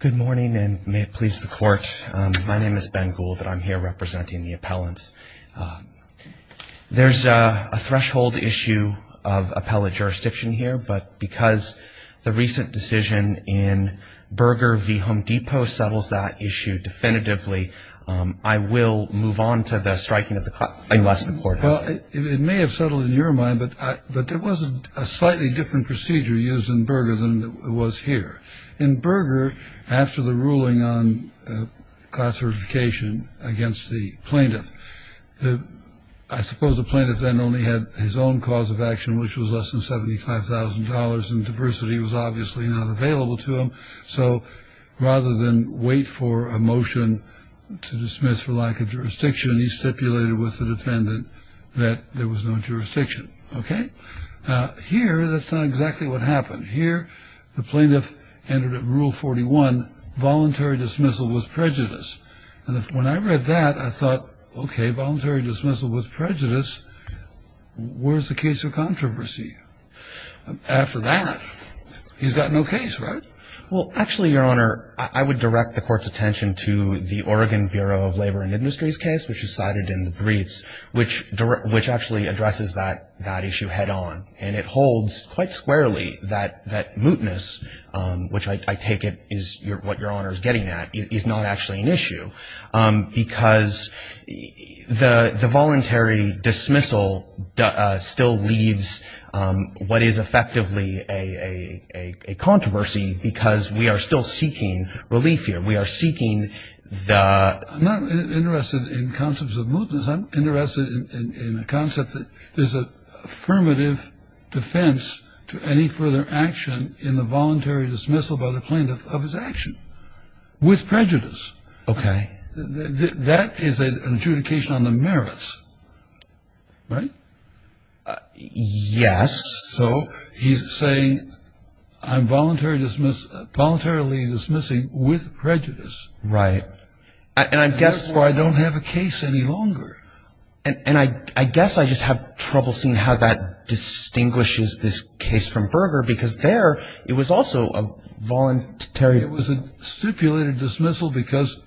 Good morning, and may it please the court. My name is Ben Gould, and I'm here representing the appellant. There's a threshold issue of appellate jurisdiction here, but because the recent decision in Berger v. Home Depot settles that issue definitively, I will move on to the striking of the clock, unless the court has it. Well, it may have settled in your mind, but there was a slightly different procedure used in Berger than it was here. In Berger, after the ruling on class certification against the plaintiff, I suppose the plaintiff then only had his own cause of action, which was less than $75,000, and diversity was obviously not available to him. So rather than wait for a motion to dismiss for lack of jurisdiction, he stipulated with the defendant that there was no jurisdiction. Okay? Here, that's not exactly what happened. Here, the plaintiff entered Rule 41, voluntary dismissal with prejudice. And when I read that, I thought, okay, voluntary dismissal with prejudice, where's the case of controversy? After that, he's got no case, right? Well, actually, Your Honor, I would direct the court's attention to the Oregon Bureau of Labor and Industries case, which is cited in the briefs, which actually addresses that issue head on. And it holds quite squarely that mootness, which I take it is what Your Honor is getting at, is not actually an issue, because the voluntary dismissal still leaves what is effectively a controversy because we are still seeking relief here. We are seeking the ‑‑ I'm not interested in concepts of mootness. I'm interested in the concept that there's an affirmative defense to any further action in the voluntary dismissal by the plaintiff of his action with prejudice. Okay. That is an adjudication on the merits. Right? Yes. So he's saying I'm voluntarily dismissing with prejudice. Right. And I guess ‑‑ Therefore, I don't have a case any longer. And I guess I just have trouble seeing how that distinguishes this case from Berger because there it was also a voluntary ‑‑ It was a stipulated dismissal because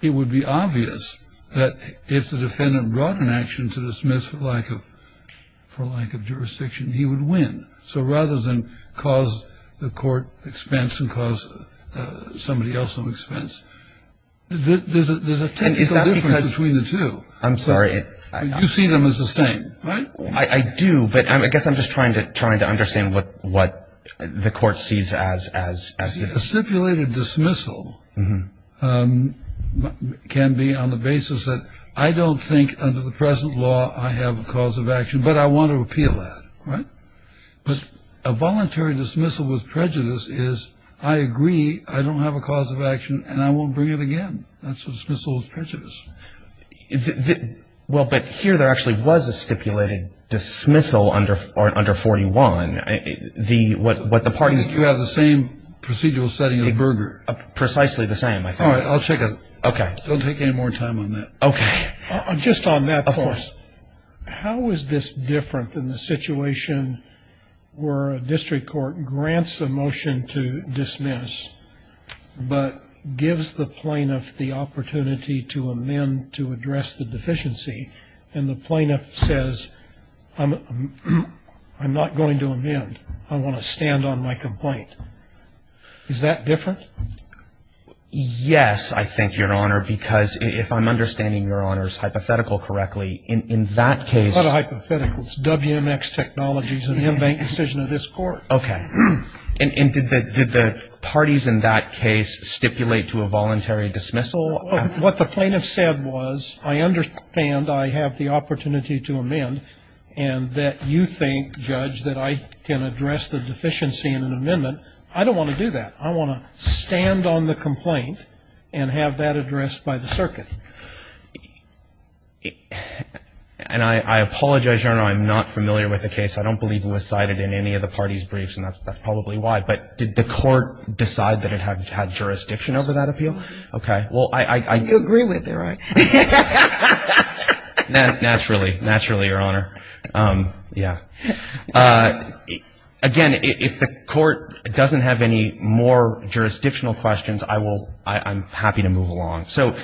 it would be obvious that if the defendant brought an action to dismiss for lack of jurisdiction, he would win. So rather than cause the court expense and cause somebody else some expense, there's a technical difference between the two. I'm sorry. You see them as the same. Right? I do, but I guess I'm just trying to understand what the court sees as ‑‑ See, a stipulated dismissal can be on the basis that I don't think under the present law I have a cause of action, but I want to appeal that. Right? But a voluntary dismissal with prejudice is I agree, I don't have a cause of action, and I won't bring it again. That's a dismissal with prejudice. Well, but here there actually was a stipulated dismissal under 41. You have the same procedural setting as Berger. Precisely the same, I think. All right. I'll check it. Okay. Don't take any more time on that. Okay. Just on that, of course. Of course. How is this different than the situation where a district court grants a motion to dismiss, but gives the plaintiff the opportunity to amend to address the deficiency, and the plaintiff says, I'm not going to amend. I want to stand on my complaint. Is that different? Yes, I think, Your Honor, because if I'm understanding Your Honor's hypothetical correctly, in that case. It's not a hypothetical. It's WMX Technologies, an in-bank decision of this court. Okay. And did the parties in that case stipulate to a voluntary dismissal? What the plaintiff said was, I understand I have the opportunity to amend, and that you think, Judge, that I can address the deficiency in an amendment. I don't want to do that. I want to stand on the complaint and have that addressed by the circuit. And I apologize, Your Honor, I'm not familiar with the case. I don't believe it was cited in any of the parties' briefs, and that's probably why. But did the court decide that it had jurisdiction over that appeal? Okay. Well, I... You agree with it, right? Naturally. Naturally, Your Honor. Yeah. Again, if the court doesn't have any more jurisdictional questions, I will... I'm happy to move along. So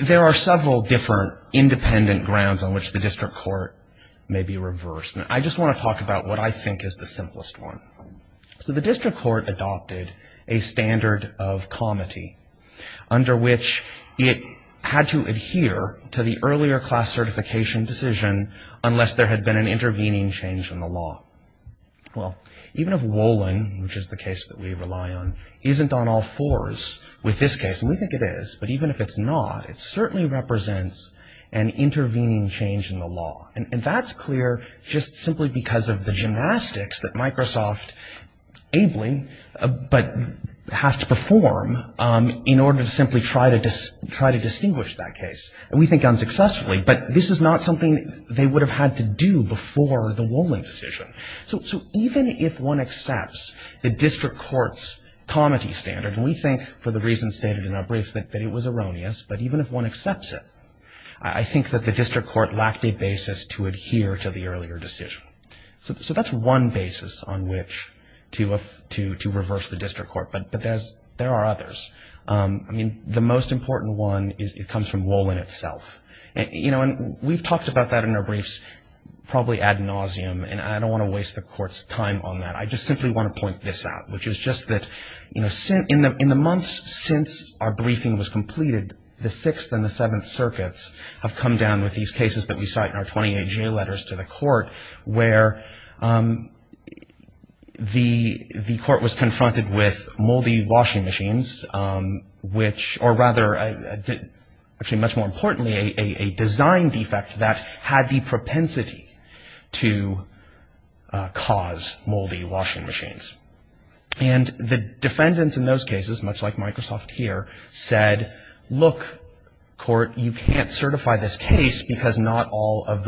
there are several different independent grounds on which the district court may be reversed. And I just want to talk about what I think is the simplest one. So the district court adopted a standard of comity, under which it had to adhere to the earlier class certification decision unless there had been an intervening change in the law. Well, even if Wolin, which is the case that we rely on, isn't on all fours with this case, and we think it is, but even if it's not, it certainly represents an intervening change in the law. And that's clear just simply because of the gymnastics that Microsoft ably, but has to perform in order to simply try to distinguish that case. And we think unsuccessfully, but this is not something they would have had to do before the Wolin decision. So even if one accepts the district court's comity standard, and we think for the reasons stated in our briefs that it was erroneous, but even if one accepts it, I think that the district court lacked a basis to adhere to the earlier decision. So that's one basis on which to reverse the district court. But there are others. I mean, the most important one is it comes from Wolin itself. You know, and we've talked about that in our briefs probably ad nauseum, and I don't want to waste the court's time on that. I just simply want to point this out, which is just that, you know, in the months since our briefing was completed, the Sixth and the Seventh Circuits have come down with these cases that we cite in our 28-J letters to the court where the court was confronted with moldy washing machines, or rather, actually much more importantly, a design defect that had the propensity to cause moldy washing machines. And the defendants in those cases, much like Microsoft here, said, look, court, you can't certify this case because not all of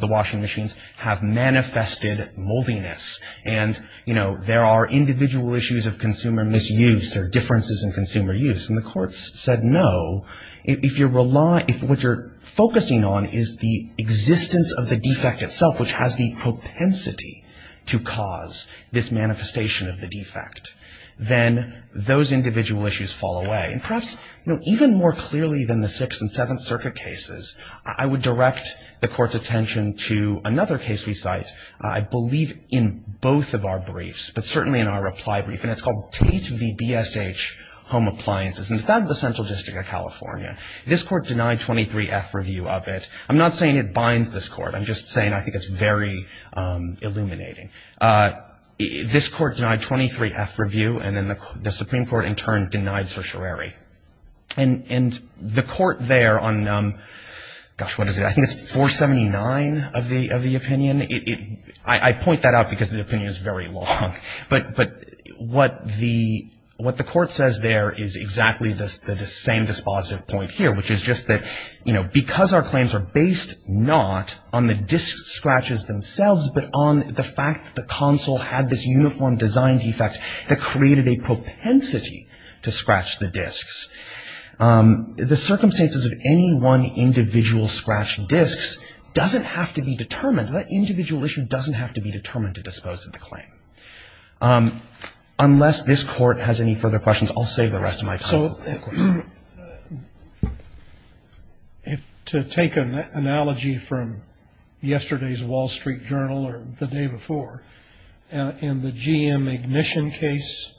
the washing machines have manifested moldiness. And, you know, there are individual issues of consumer misuse or differences in consumer use. And the court said no. If you're relying, what you're focusing on is the existence of the defect itself, which has the propensity to cause this manifestation of the defect, then those individual issues fall away. And perhaps, you know, even more clearly than the Sixth and Seventh Circuit cases, I would direct the court's attention to another case we cite, I believe, in both of our briefs, but certainly in our reply brief, and it's called Tate v. BSH Home Appliances, and it's out of the Central District of California. This court denied 23-F review of it. I'm not saying it binds this court. I'm just saying I think it's very illuminating. This court denied 23-F review, and then the Supreme Court, in turn, denied certiorari. And the court there on, gosh, what is it? I think it's 479 of the opinion. I point that out because the opinion is very long. But what the court says there is exactly the same dispositive point here, which is just that, you know, because our claims are based not on the disc scratches themselves, but on the fact that the console had this uniform design defect that created a propensity to scratch the discs. The circumstances of any one individual scratch discs doesn't have to be determined. That individual issue doesn't have to be determined to dispose of the claim. Unless this court has any further questions, I'll save the rest of my time. So to take an analogy from yesterday's Wall Street Journal or the day before, in the GM ignition case,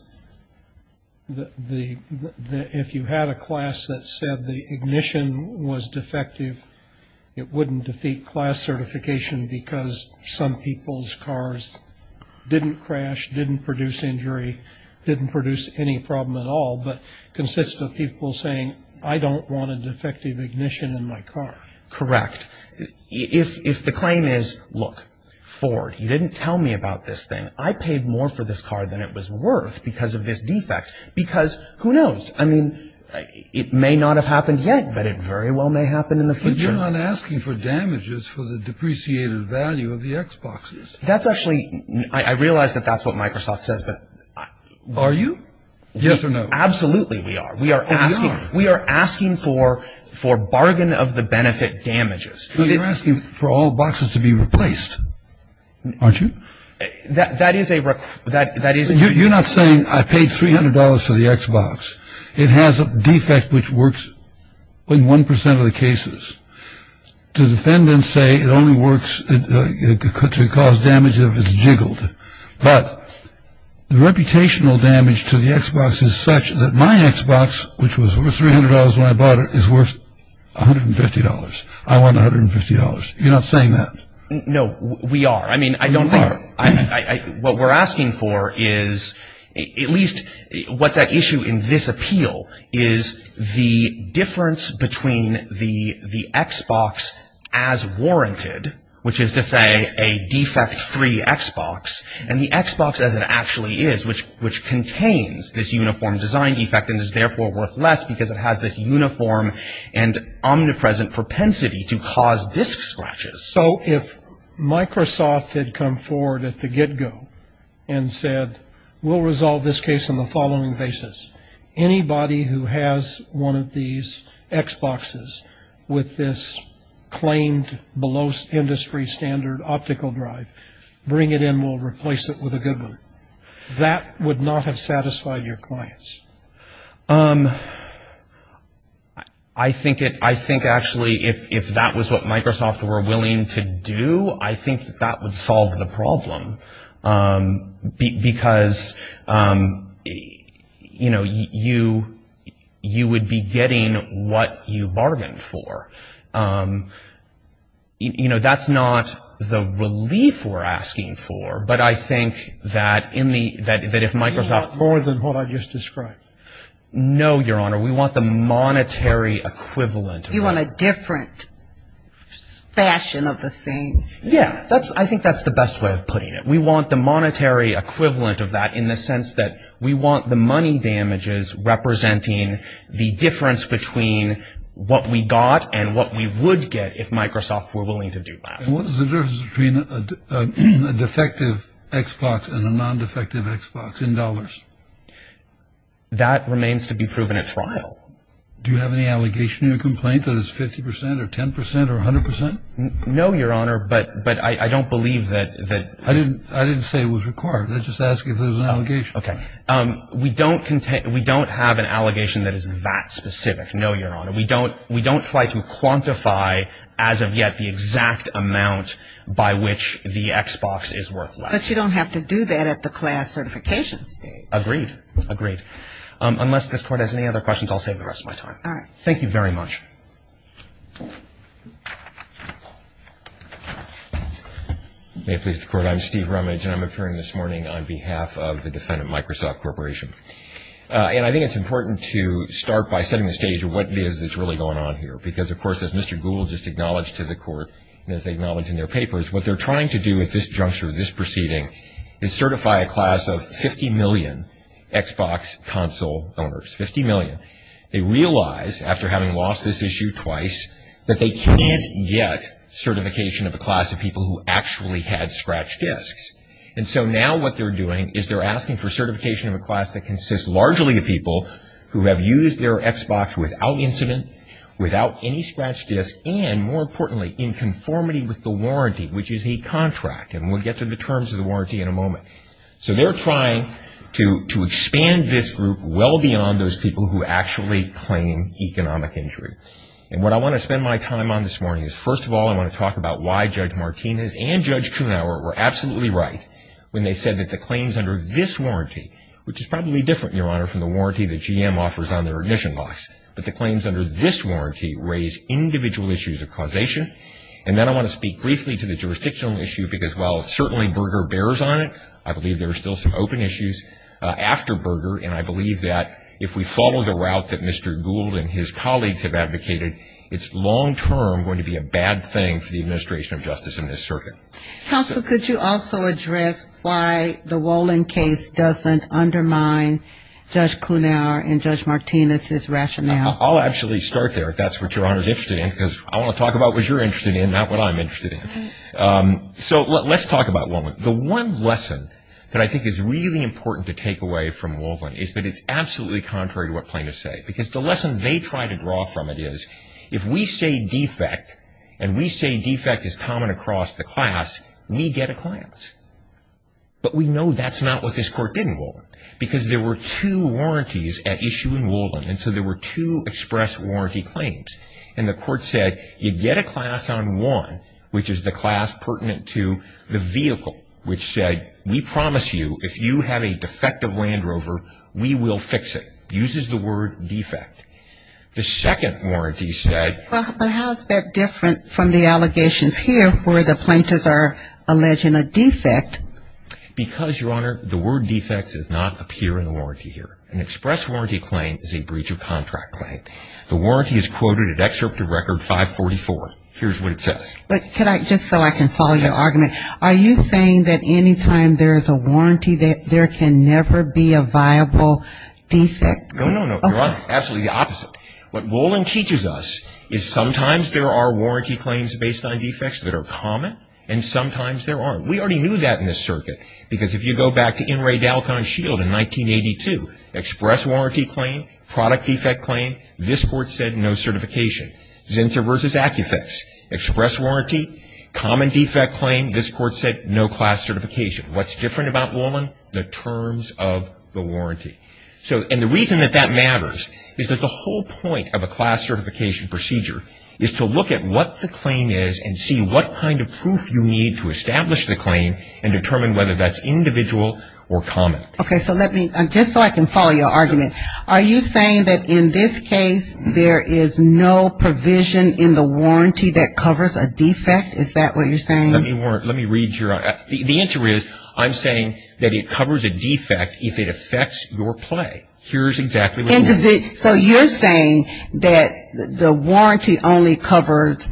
if you had a class that said the ignition was defective, it wouldn't defeat class certification because some people's cars didn't crash, didn't produce injury, didn't produce any problem at all, but consists of people saying, I don't want a defective ignition in my car. Correct. If the claim is, look, Ford, he didn't tell me about this thing. I paid more for this car than it was worth because of this defect. Because who knows? I mean, it may not have happened yet, but it very well may happen in the future. But you're not asking for damages for the depreciated value of the Xboxes. I realize that that's what Microsoft says. Are you? Yes or no. Absolutely we are. We are asking for bargain of the benefit damages. You're asking for all boxes to be replaced, aren't you? You're not saying I paid $300 for the Xbox. It has a defect which works in 1% of the cases. The defendants say it only works to cause damage if it's jiggled. But the reputational damage to the Xbox is such that my Xbox, which was worth $300 when I bought it, is worth $150. I want $150. You're not saying that. No, we are. I mean, I don't think. You are. What we're asking for is at least what's at issue in this appeal is the difference between the Xbox as warranted, which is to say a defect-free Xbox, and the Xbox as it actually is, which contains this uniform design defect and is therefore worth less because it has this uniform and omnipresent propensity to cause disc scratches. So if Microsoft had come forward at the get-go and said, we'll resolve this case on the following basis. Anybody who has one of these Xboxes with this claimed below industry standard optical drive, bring it in. We'll replace it with a good one. That would not have satisfied your clients. I think actually if that was what Microsoft were willing to do, I think that would solve the problem. Because, you know, you would be getting what you bargained for. You know, that's not the relief we're asking for. But I think that if Microsoft. You want more than what I just described. No, Your Honor. We want the monetary equivalent. You want a different fashion of the thing. Yeah. I think that's the best way of putting it. We want the monetary equivalent of that in the sense that we want the money damages representing the difference between what we got and what we would get if Microsoft were willing to do that. What is the difference between a defective Xbox and a non-defective Xbox in dollars? That remains to be proven at trial. Do you have any allegation in your complaint that it's 50 percent or 10 percent or 100 percent? No, Your Honor, but I don't believe that. I didn't say it was required. I just asked if there was an allegation. Okay. We don't have an allegation that is that specific. No, Your Honor. We don't try to quantify as of yet the exact amount by which the Xbox is worth less. But you don't have to do that at the class certification stage. Agreed. Agreed. Unless this Court has any other questions, I'll save the rest of my time. All right. Thank you very much. May it please the Court. I'm Steve Rumage, and I'm appearing this morning on behalf of the defendant, Microsoft Corporation. And I think it's important to start by setting the stage of what it is that's really going on here. Because, of course, as Mr. Gould just acknowledged to the Court, and as they acknowledge in their papers, what they're trying to do at this juncture, this proceeding, is certify a class of 50 million Xbox console owners. Fifty million. They realize, after having lost this issue twice, that they can't get certification of a class of people who actually had scratch disks. And so now what they're doing is they're asking for certification of a class that consists largely of people who have used their Xbox without incident, without any scratch disks, and, more importantly, in conformity with the warranty, which is a contract. And we'll get to the terms of the warranty in a moment. So they're trying to expand this group well beyond those people who actually claim economic injury. And what I want to spend my time on this morning is, first of all, I want to talk about why Judge Martinez and Judge Trunauer were absolutely right when they said that the claims under this warranty, which is probably different, Your Honor, from the warranty that GM offers on their ignition locks, but the claims under this warranty raise individual issues of causation. And then I want to speak briefly to the jurisdictional issue, because while certainly Berger bears on it, I believe there are still some open issues after Berger, and I believe that if we follow the route that Mr. Gould and his colleagues have advocated, it's long-term going to be a bad thing for the administration of justice in this circuit. Counsel, could you also address why the Wolin case doesn't undermine Judge Trunauer and Judge Martinez's rationale? I'll actually start there, if that's what Your Honor is interested in, because I want to talk about what you're interested in, not what I'm interested in. So let's talk about Wolin. The one lesson that I think is really important to take away from Wolin is that it's absolutely contrary to what plaintiffs say, because the lesson they try to draw from it is, if we say defect, and we say defect is common across the class, we get a class. But we know that's not what this court did in Wolin, because there were two warranties at issue in Wolin, and so there were two express warranty claims. And the court said, you get a class on one, which is the class pertinent to the vehicle, which said, we promise you, if you have a defective Land Rover, we will fix it. Uses the word defect. The second warranty said... But how is that different from the allegations here, where the plaintiffs are alleging a defect? Because, Your Honor, the word defect does not appear in the warranty here. An express warranty claim is a breach of contract claim. The warranty is quoted at Excerpt of Record 544. Here's what it says. But could I, just so I can follow your argument. Yes. Are you saying that any time there is a warranty, there can never be a viable defect? No, no, no. You're absolutely opposite. What Wolin teaches us is sometimes there are warranty claims based on defects that are common, and sometimes there aren't. We already knew that in this circuit. Because if you go back to N. Ray Dalcon Shield in 1982, express warranty claim, product defect claim, this court said no certification. Zinsser v. Acufix, express warranty, common defect claim, this court said no class certification. What's different about Wolin? The terms of the warranty. So, and the reason that that matters is that the whole point of a class certification procedure is to look at what the claim is and see what kind of proof you need to establish the claim and determine whether that's individual or common. Okay, so let me, just so I can follow your argument. Are you saying that in this case there is no provision in the warranty that covers a defect? Is that what you're saying? Let me read here. The answer is I'm saying that it covers a defect if it affects your play. Here's exactly what you're saying. So you're saying that the warranty only covers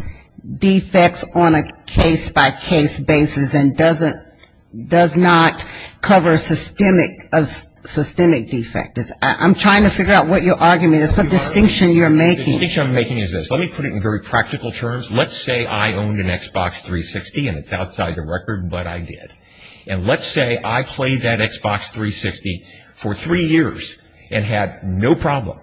defects on a case-by-case basis and does not cover systemic defect. I'm trying to figure out what your argument is, what distinction you're making. The distinction I'm making is this. Let me put it in very practical terms. Let's say I owned an Xbox 360 and it's outside the record, but I did. And let's say I played that Xbox 360 for three years and had no problem.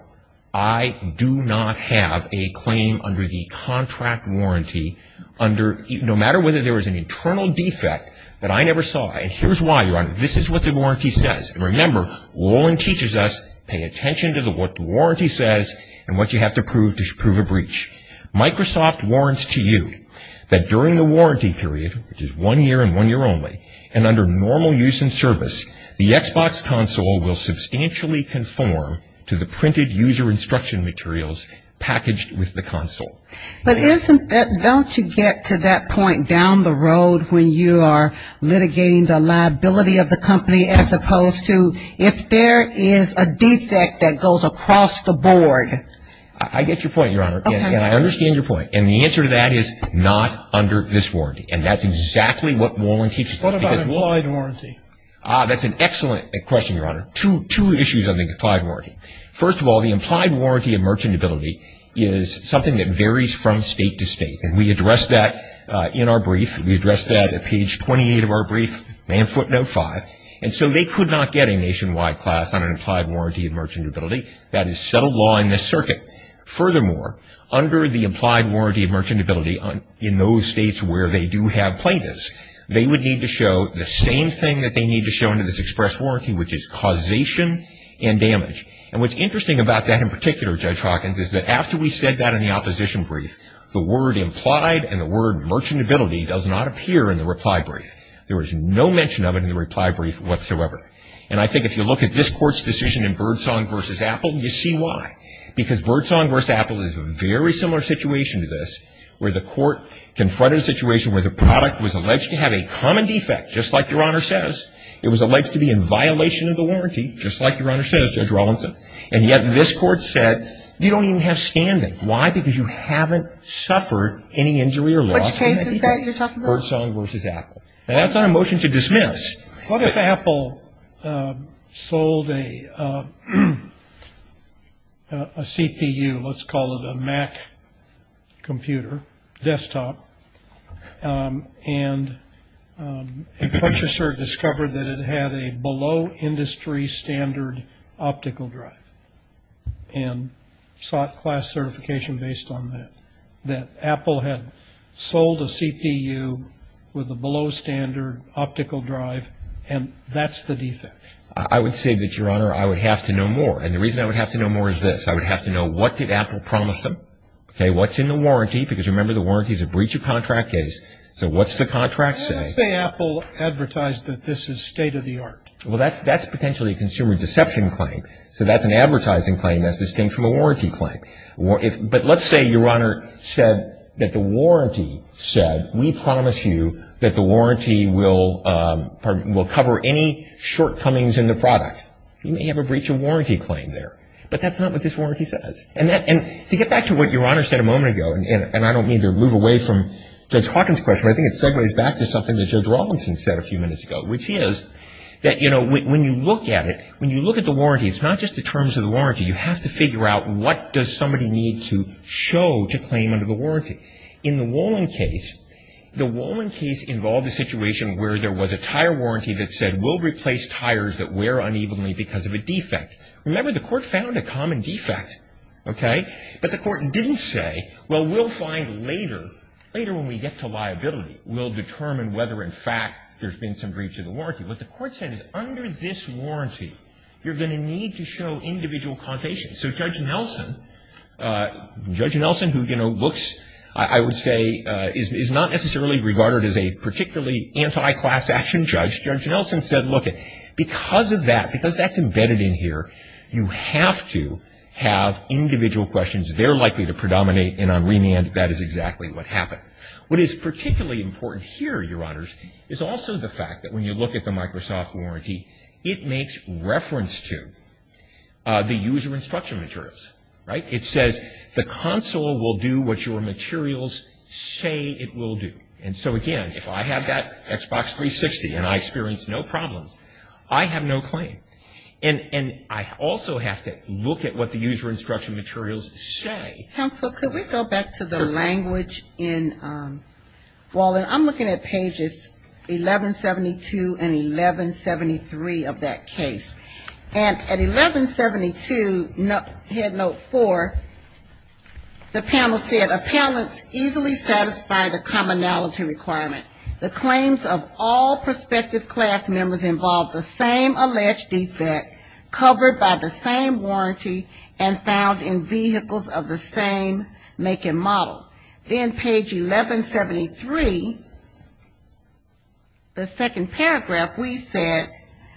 I do not have a claim under the contract warranty under, no matter whether there was an internal defect that I never saw. Here's why, Your Honor. This is what the warranty says. Remember, Roland teaches us, pay attention to what the warranty says and what you have to prove to prove a breach. Microsoft warrants to you that during the warranty period, which is one year and one year only, and under normal use and service, the Xbox console will substantially conform to the printed user instruction materials packaged with the console. But don't you get to that point down the road when you are litigating the liability of the company as opposed to if there is a defect that goes across the board? I get your point, Your Honor. Okay. And I understand your point. And the answer to that is not under this warranty. And that's exactly what Roland teaches us. What about implied warranty? That's an excellent question, Your Honor. Two issues on the implied warranty. First of all, the implied warranty of merchantability is something that varies from state to state. And we address that in our brief. We address that at page 28 of our brief, Manfoot Note 5. And so they could not get a nationwide class on an implied warranty of merchantability. That is settled law in this circuit. Furthermore, under the implied warranty of merchantability in those states where they do have plaintiffs, they would need to show the same thing that they need to show under this express warranty, which is causation and damage. And what's interesting about that in particular, Judge Hawkins, is that after we said that in the opposition brief, the word implied and the word merchantability does not appear in the reply brief. There was no mention of it in the reply brief whatsoever. And I think if you look at this Court's decision in Birdsong v. Apple, you see why. Because Birdsong v. Apple is a very similar situation to this, where the Court confronted a situation where the product was alleged to have a common defect, just like Your Honor says. It was alleged to be in violation of the warranty, just like Your Honor says, Judge Rawlinson. And yet this Court said you don't even have standing. Why? Because you haven't suffered any injury or loss. Which case is that you're talking about? Birdsong v. Apple. And that's not a motion to dismiss. What if Apple sold a CPU, let's call it a Mac computer, desktop, and a purchaser discovered that it had a below industry standard optical drive and sought class certification based on that, that Apple had sold a CPU with a below standard optical drive, and that's the defect? I would say that, Your Honor, I would have to know more. And the reason I would have to know more is this. I would have to know what did Apple promise them, okay, what's in the warranty, because remember the warranty is a breach of contract case. So what's the contract say? Let's say Apple advertised that this is state of the art. Well, that's potentially a consumer deception claim. So that's an advertising claim that's distinct from a warranty claim. But let's say, Your Honor, said that the warranty said, we promise you that the warranty will cover any shortcomings in the product. You may have a breach of warranty claim there. But that's not what this warranty says. And to get back to what Your Honor said a moment ago, and I don't mean to move away from Judge Hawkins' question, but I think it segues back to something that Judge Robinson said a few minutes ago, which is that, you know, when you look at it, when you look at the warranty, it's not just the terms of the warranty. You have to figure out what does somebody need to show to claim under the warranty. In the Wolin case, the Wolin case involved a situation where there was a tire warranty that said we'll replace tires that wear unevenly because of a defect. Remember, the court found a common defect, okay. But the court didn't say, well, we'll find later, later when we get to liability, we'll determine whether, in fact, there's been some breach of the warranty. What the court said is under this warranty, you're going to need to show individual causation. So Judge Nelson, Judge Nelson, who, you know, looks, I would say, is not necessarily regarded as a particularly anti-class action judge. Judge Nelson said, look, because of that, because that's embedded in here, you have to have individual questions. They're likely to predominate, and on remand, that is exactly what happened. What is particularly important here, Your Honors, is also the fact that when you look at the Microsoft warranty, it makes reference to the user instruction materials, right. It says the console will do what your materials say it will do. And so, again, if I have that Xbox 360 and I experience no problems, I have no claim. And I also have to look at what the user instruction materials say. Counsel, could we go back to the language in Walden? I'm looking at pages 1172 and 1173 of that case. And at 1172, Head Note 4, the panel said, Appellants easily satisfy the commonality requirement. The claims of all prospective class members involve the same alleged defect, covered by the same warranty, and found in vehicles of the same make and model. Then page 1173, the second paragraph, we said,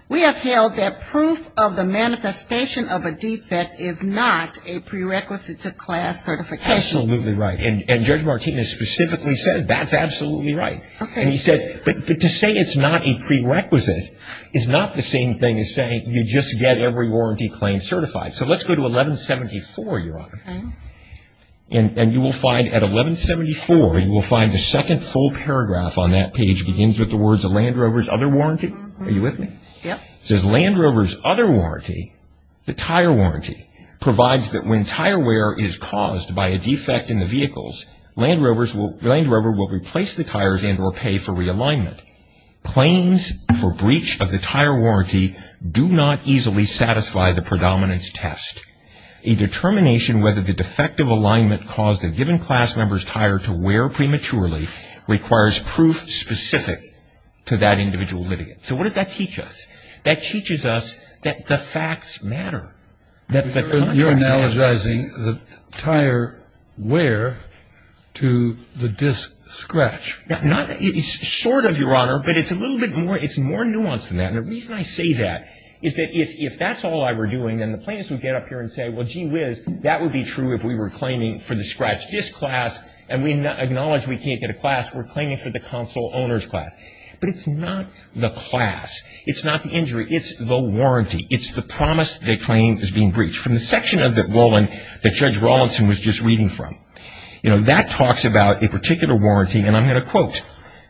we have held that proof of the manifestation of a defect is not a prerequisite to class certification. Absolutely right. And Judge Martinez specifically said that's absolutely right. And he said, but to say it's not a prerequisite is not the same thing as saying you just get every warranty claim certified. So let's go to 1174, Your Honor. And you will find at 1174, you will find the second full paragraph on that page begins with the words of Land Rover's other warranty. Are you with me? Yep. It says Land Rover's other warranty, the tire warranty, provides that when tire wear is caused by a defect in the vehicles, Land Rover will replace the tires and or pay for realignment. Claims for breach of the tire warranty do not easily satisfy the predominance test. A determination whether the defective alignment caused a given class member's tire to wear prematurely requires proof specific to that individual litigant. So what does that teach us? That teaches us that the facts matter. You're analogizing the tire wear to the disc scratch. Not, sort of, Your Honor, but it's a little bit more, it's more nuanced than that. And the reason I say that is that if that's all I were doing, then the plaintiffs would get up here and say, well, gee whiz, that would be true if we were claiming for the scratch disc class and we acknowledge we can't get a class, we're claiming for the console owner's class. But it's not the class. It's not the injury. It's the warranty. It's the promise they claim is being breached. From the section of the ruling that Judge Rawlinson was just reading from, you know, that talks about a particular warranty. And I'm going to quote.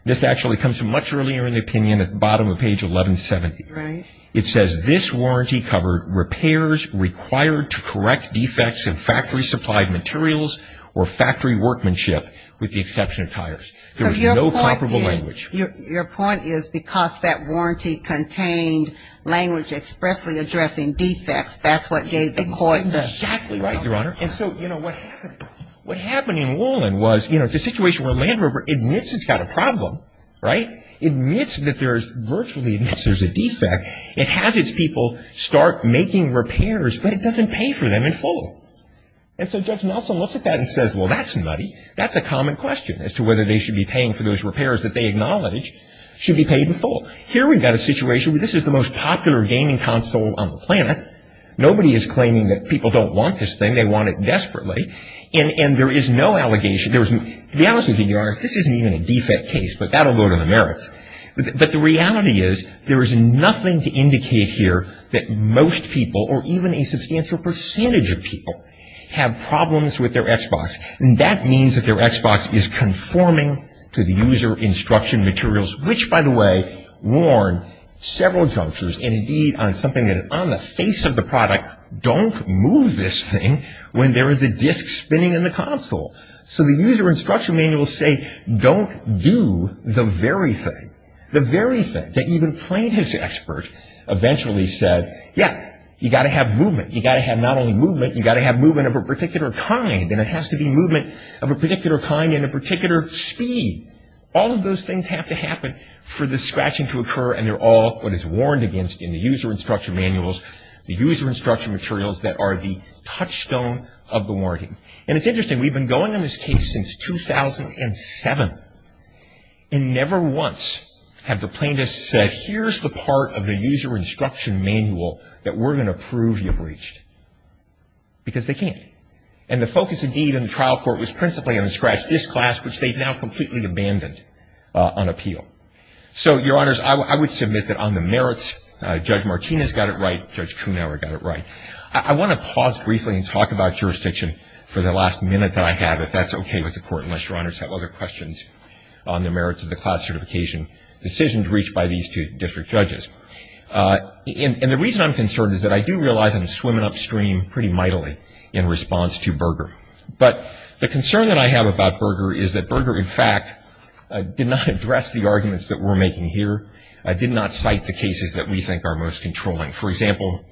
This actually comes from much earlier in the opinion at the bottom of page 1170. It says, This warranty covered repairs required to correct defects in factory supplied materials or factory workmanship with the exception of tires. There was no comparable language. Your point is because that warranty contained language expressly addressing defects, that's what gave the court the. Exactly right, Your Honor. And so, you know, what happened in Woolen was, you know, it's a situation where Land Rover admits it's got a problem, right, admits that there's virtually a defect. It has its people start making repairs, but it doesn't pay for them in full. And so Judge Nelson looks at that and says, well, that's nutty. That's a common question as to whether they should be paying for those repairs that they acknowledge should be paid in full. Here we've got a situation where this is the most popular gaming console on the planet. Nobody is claiming that people don't want this thing. They want it desperately. And there is no allegation. To be honest with you, Your Honor, this isn't even a defect case, but that will go to the merits. But the reality is there is nothing to indicate here that most people or even a substantial percentage of people have problems with their Xbox. And that means that their Xbox is conforming to the user instruction materials, which, by the way, warn several junctures, and indeed on something that on the face of the product, don't move this thing when there is a disc spinning in the console. So the user instruction manuals say don't do the very thing, the very thing that even plaintiff's expert eventually said, yeah, you've got to have movement. You've got to have not only movement, you've got to have movement of a particular kind, and it has to be movement of a particular kind and a particular speed. All of those things have to happen for the scratching to occur, and they're all what is warned against in the user instruction manuals, the user instruction materials that are the touchstone of the warning. And it's interesting. We've been going on this case since 2007, and never once have the plaintiffs said, here's the part of the user instruction manual that we're going to prove you breached. Because they can't. And the focus, indeed, in the trial court was principally on the scratched disk glass, which they've now completely abandoned on appeal. So, Your Honors, I would submit that on the merits, Judge Martinez got it right, Judge Kuhnhauer got it right. I want to pause briefly and talk about jurisdiction for the last minute that I have, if that's okay with the Court, unless Your Honors have other questions on the merits of the class certification decisions reached by these two district judges. And the reason I'm concerned is that I do realize I'm swimming upstream pretty mightily in response to Berger. But the concern that I have about Berger is that Berger, in fact, did not address the arguments that we're making here, did not cite the cases that we think are most controlling. For example,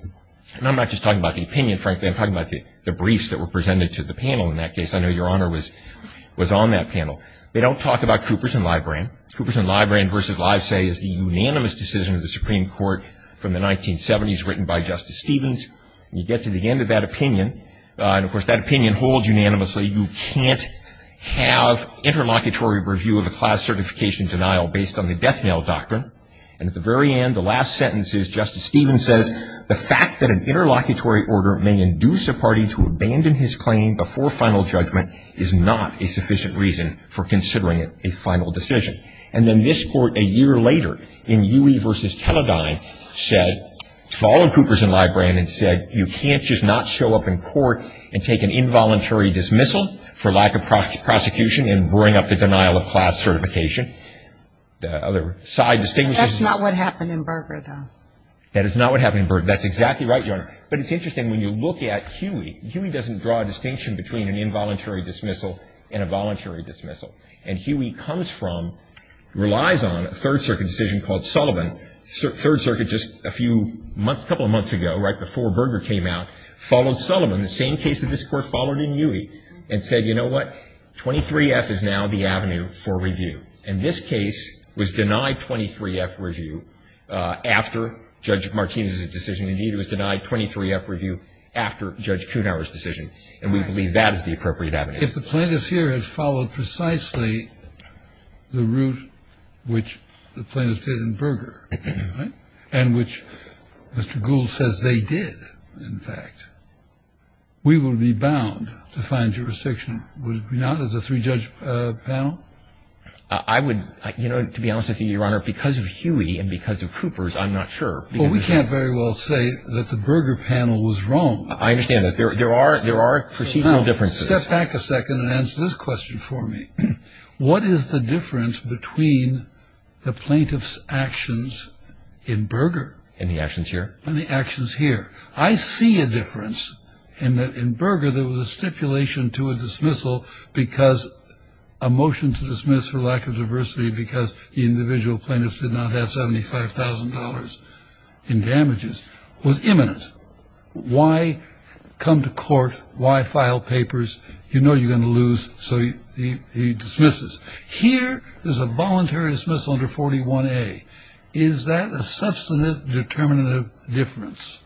and I'm not just talking about the opinion, frankly, I'm talking about the briefs that were presented to the panel in that case. I know Your Honor was on that panel. They don't talk about Coopers and Libran. Coopers and Libran versus Lysay is the unanimous decision of the Supreme Court from the 1970s, written by Justice Stevens. You get to the end of that opinion, and, of course, that opinion holds unanimously. You can't have interlocutory review of a class certification denial based on the death knell doctrine. And at the very end, the last sentence is Justice Stevens says, the fact that an interlocutory order may induce a party to abandon his claim before final judgment is not a sufficient reason for considering a final decision. And then this Court, a year later, in Huey versus Teledyne, said, followed Coopers and Libran and said you can't just not show up in court and take an involuntary dismissal for lack of prosecution and bring up the denial of class certification. The other side distinguishes. That's not what happened in Berger, though. That is not what happened in Berger. That's exactly right, Your Honor. But it's interesting, when you look at Huey, Huey doesn't draw a distinction between an involuntary dismissal and a voluntary dismissal. And Huey comes from, relies on, a Third Circuit decision called Sullivan. Third Circuit just a few months, a couple of months ago, right before Berger came out, followed Sullivan, the same case that this Court followed in Huey, and said, you know what? 23F is now the avenue for review. And this case was denied 23F review after Judge Martinez's decision. Indeed, it was denied 23F review after Judge Kuhnhauer's decision. And we believe that is the appropriate avenue. If the plaintiff here has followed precisely the route which the plaintiff did in Berger, right, and which Mr. Gould says they did, in fact, we will be bound to find jurisdiction. Would we not, as a three-judge panel? I would, you know, to be honest with you, Your Honor, because of Huey and because of Coopers, I'm not sure. Well, we can't very well say that the Berger panel was wrong. I understand that. There are procedural differences. Step back a second and answer this question for me. What is the difference between the plaintiff's actions in Berger? And the actions here? And the actions here. I see a difference in that in Berger there was a stipulation to a dismissal because a motion to dismiss for lack of diversity because the individual plaintiffs did not have $75,000 in damages was imminent. Why come to court? Why file papers? You know you're going to lose, so he dismisses. Here there's a voluntary dismissal under 41A. Is that a substantive determinative difference?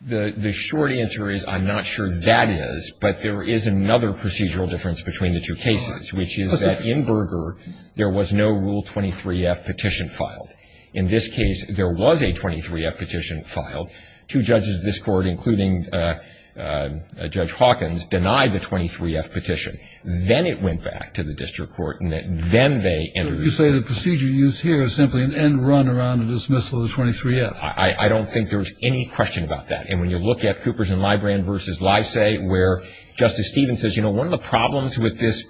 The short answer is I'm not sure that is, but there is another procedural difference between the two cases, which is that in Berger there was no Rule 23-F petition filed. In this case, there was a 23-F petition filed. Two judges of this court, including Judge Hawkins, denied the 23-F petition. Then it went back to the district court, and then they entered it. So you say the procedure used here is simply an end run around a dismissal of the 23-F? I don't think there's any question about that. And when you look at Coopers and Librand versus Lysay where Justice Stevens says, you know, one of the problems with this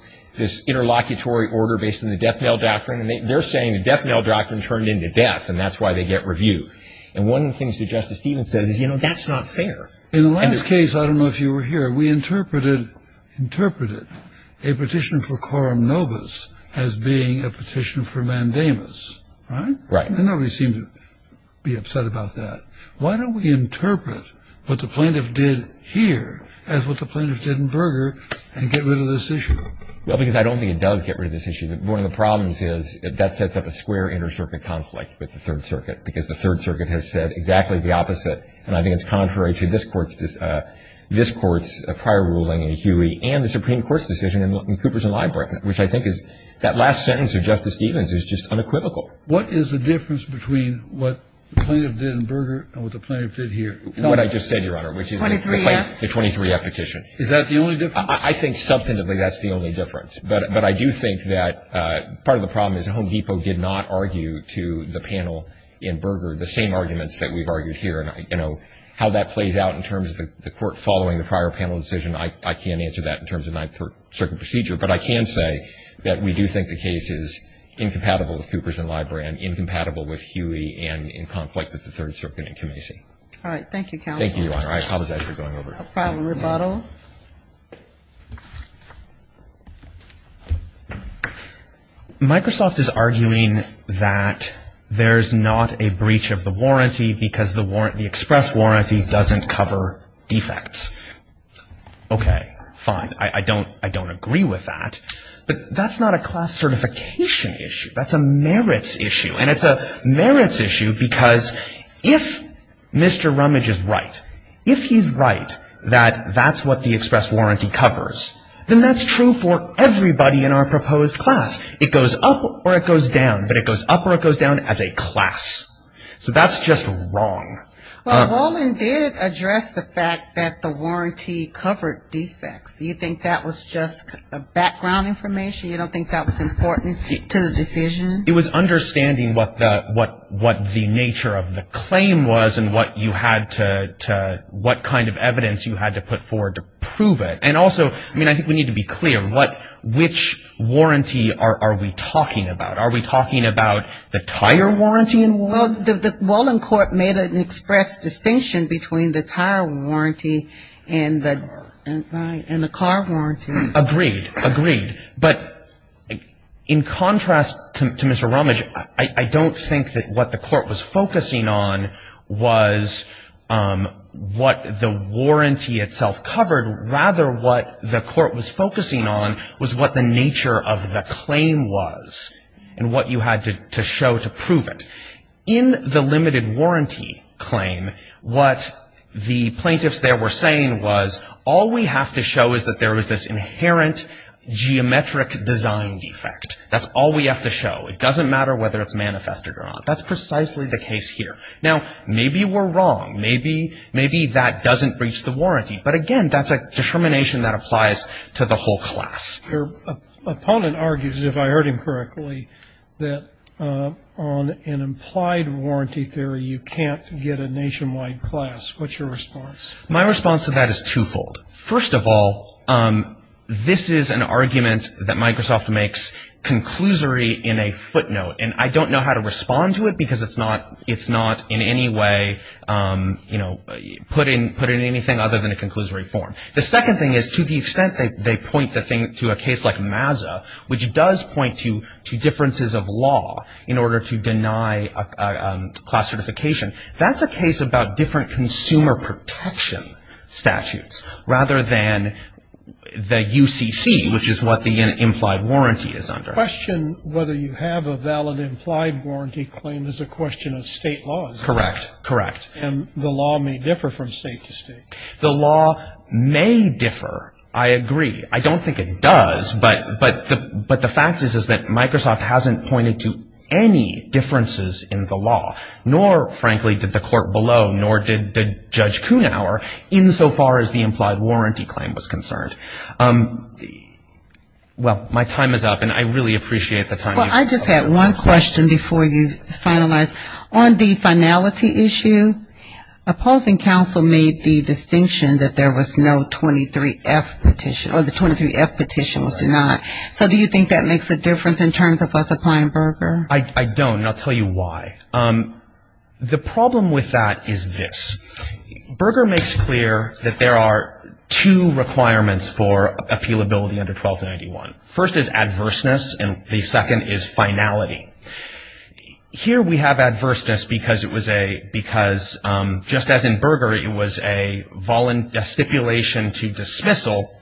interlocutory order based on the death knell doctrine, they're saying the death knell doctrine turned into death, and that's why they get reviewed. And one of the things that Justice Stevens says is, you know, that's not fair. In the last case, I don't know if you were here, we interpreted a petition for Coram Novus as being a petition for Mandamus. Right? Right. And nobody seemed to be upset about that. Why don't we interpret what the plaintiff did here as what the plaintiff did in Berger and get rid of this issue? Well, because I don't think it does get rid of this issue. One of the problems is that sets up a square inter-circuit conflict with the Third Circuit because the Third Circuit has said exactly the opposite, and I think it's contrary to this court's prior ruling in Huey and the Supreme Court's decision in Coopers and Librand, which I think is that last sentence of Justice Stevens is just unequivocal. What is the difference between what the plaintiff did in Berger and what the plaintiff did here? What I just said, Your Honor, which is the 23-F petition. Is that the only difference? I think substantively that's the only difference. But I do think that part of the problem is that Home Depot did not argue to the panel in Berger the same arguments that we've argued here. And, you know, how that plays out in terms of the court following the prior panel decision, I can't answer that in terms of Ninth Circuit procedure. But I can say that we do think the case is incompatible with Coopers and Librand, incompatible with Huey, and in conflict with the Third Circuit and Kamesi. All right. Thank you, counsel. Thank you, Your Honor. I apologize for going over. We'll file a rebuttal. Microsoft is arguing that there's not a breach of the warranty because the express warranty doesn't cover defects. Okay. Fine. I don't agree with that. But that's not a class certification issue. That's a merits issue. And it's a merits issue because if Mr. Rumage is right, if he's right that that's what the express warranty covers, then that's true for everybody in our proposed class. It goes up or it goes down. But it goes up or it goes down as a class. So that's just wrong. Well, Wolin did address the fact that the warranty covered defects. Do you think that was just background information? You don't think that was important to the decision? It was understanding what the nature of the claim was and what kind of evidence you had to put forward to prove it. And also, I mean, I think we need to be clear. Which warranty are we talking about? Are we talking about the tire warranty? I mean, the Wolin court made an express distinction between the tire warranty and the car warranty. Agreed. Agreed. But in contrast to Mr. Rumage, I don't think that what the court was focusing on was what the warranty itself covered. Rather, what the court was focusing on was what the nature of the claim was and what you had to show to prove it. In the limited warranty claim, what the plaintiffs there were saying was, all we have to show is that there is this inherent geometric design defect. That's all we have to show. It doesn't matter whether it's manifested or not. That's precisely the case here. Now, maybe we're wrong. Maybe that doesn't breach the warranty. But, again, that's a determination that applies to the whole class. Your opponent argues, if I heard him correctly, that on an implied warranty theory you can't get a nationwide class. What's your response? My response to that is twofold. First of all, this is an argument that Microsoft makes conclusory in a footnote, and I don't know how to respond to it because it's not in any way, you know, put in anything other than a conclusory form. The second thing is, to the extent they point the thing to a case like MAZA, which does point to differences of law in order to deny class certification, that's a case about different consumer protection statutes rather than the UCC, which is what the implied warranty is under. The question whether you have a valid implied warranty claim is a question of state laws. Correct. Correct. And the law may differ from state to state. The law may differ, I agree. I don't think it does, but the fact is, is that Microsoft hasn't pointed to any differences in the law, nor, frankly, did the court below, nor did Judge Kuhnhauer, insofar as the implied warranty claim was concerned. Well, my time is up, and I really appreciate the time. Well, I just had one question before you finalize. On the finality issue, opposing counsel made the distinction that there was no 23F petition, or the 23F petition was denied. So do you think that makes a difference in terms of us applying Berger? I don't, and I'll tell you why. The problem with that is this. Berger makes clear that there are two requirements for appealability under 1291. First is adverseness, and the second is finality. Here we have adverseness because it was a, because just as in Berger, it was a stipulation to dismissal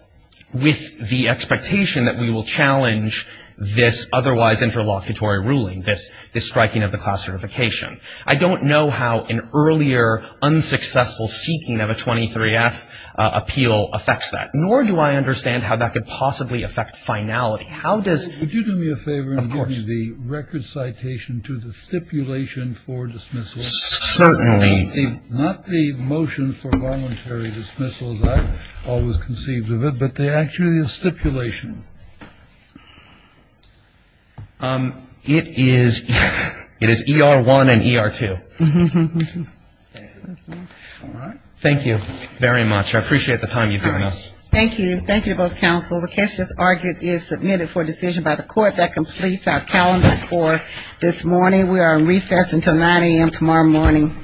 with the expectation that we will challenge this otherwise interlocutory ruling, this striking of the class certification. I don't know how an earlier unsuccessful seeking of a 23F appeal affects that, nor do I understand how that could possibly affect finality. How does — Would you do me a favor — Of course. — and assign the record citation to the stipulation for dismissal? Certainly. Not the motion for voluntary dismissal as I always conceived of it, but the actual stipulation. It is ER1 and ER2. Thank you very much. I appreciate the time you've given us. Thank you. Thank you to both counsel. The request as argued is submitted for decision by the court. That completes our calendar for this morning. We are on recess until 9 a.m. tomorrow morning.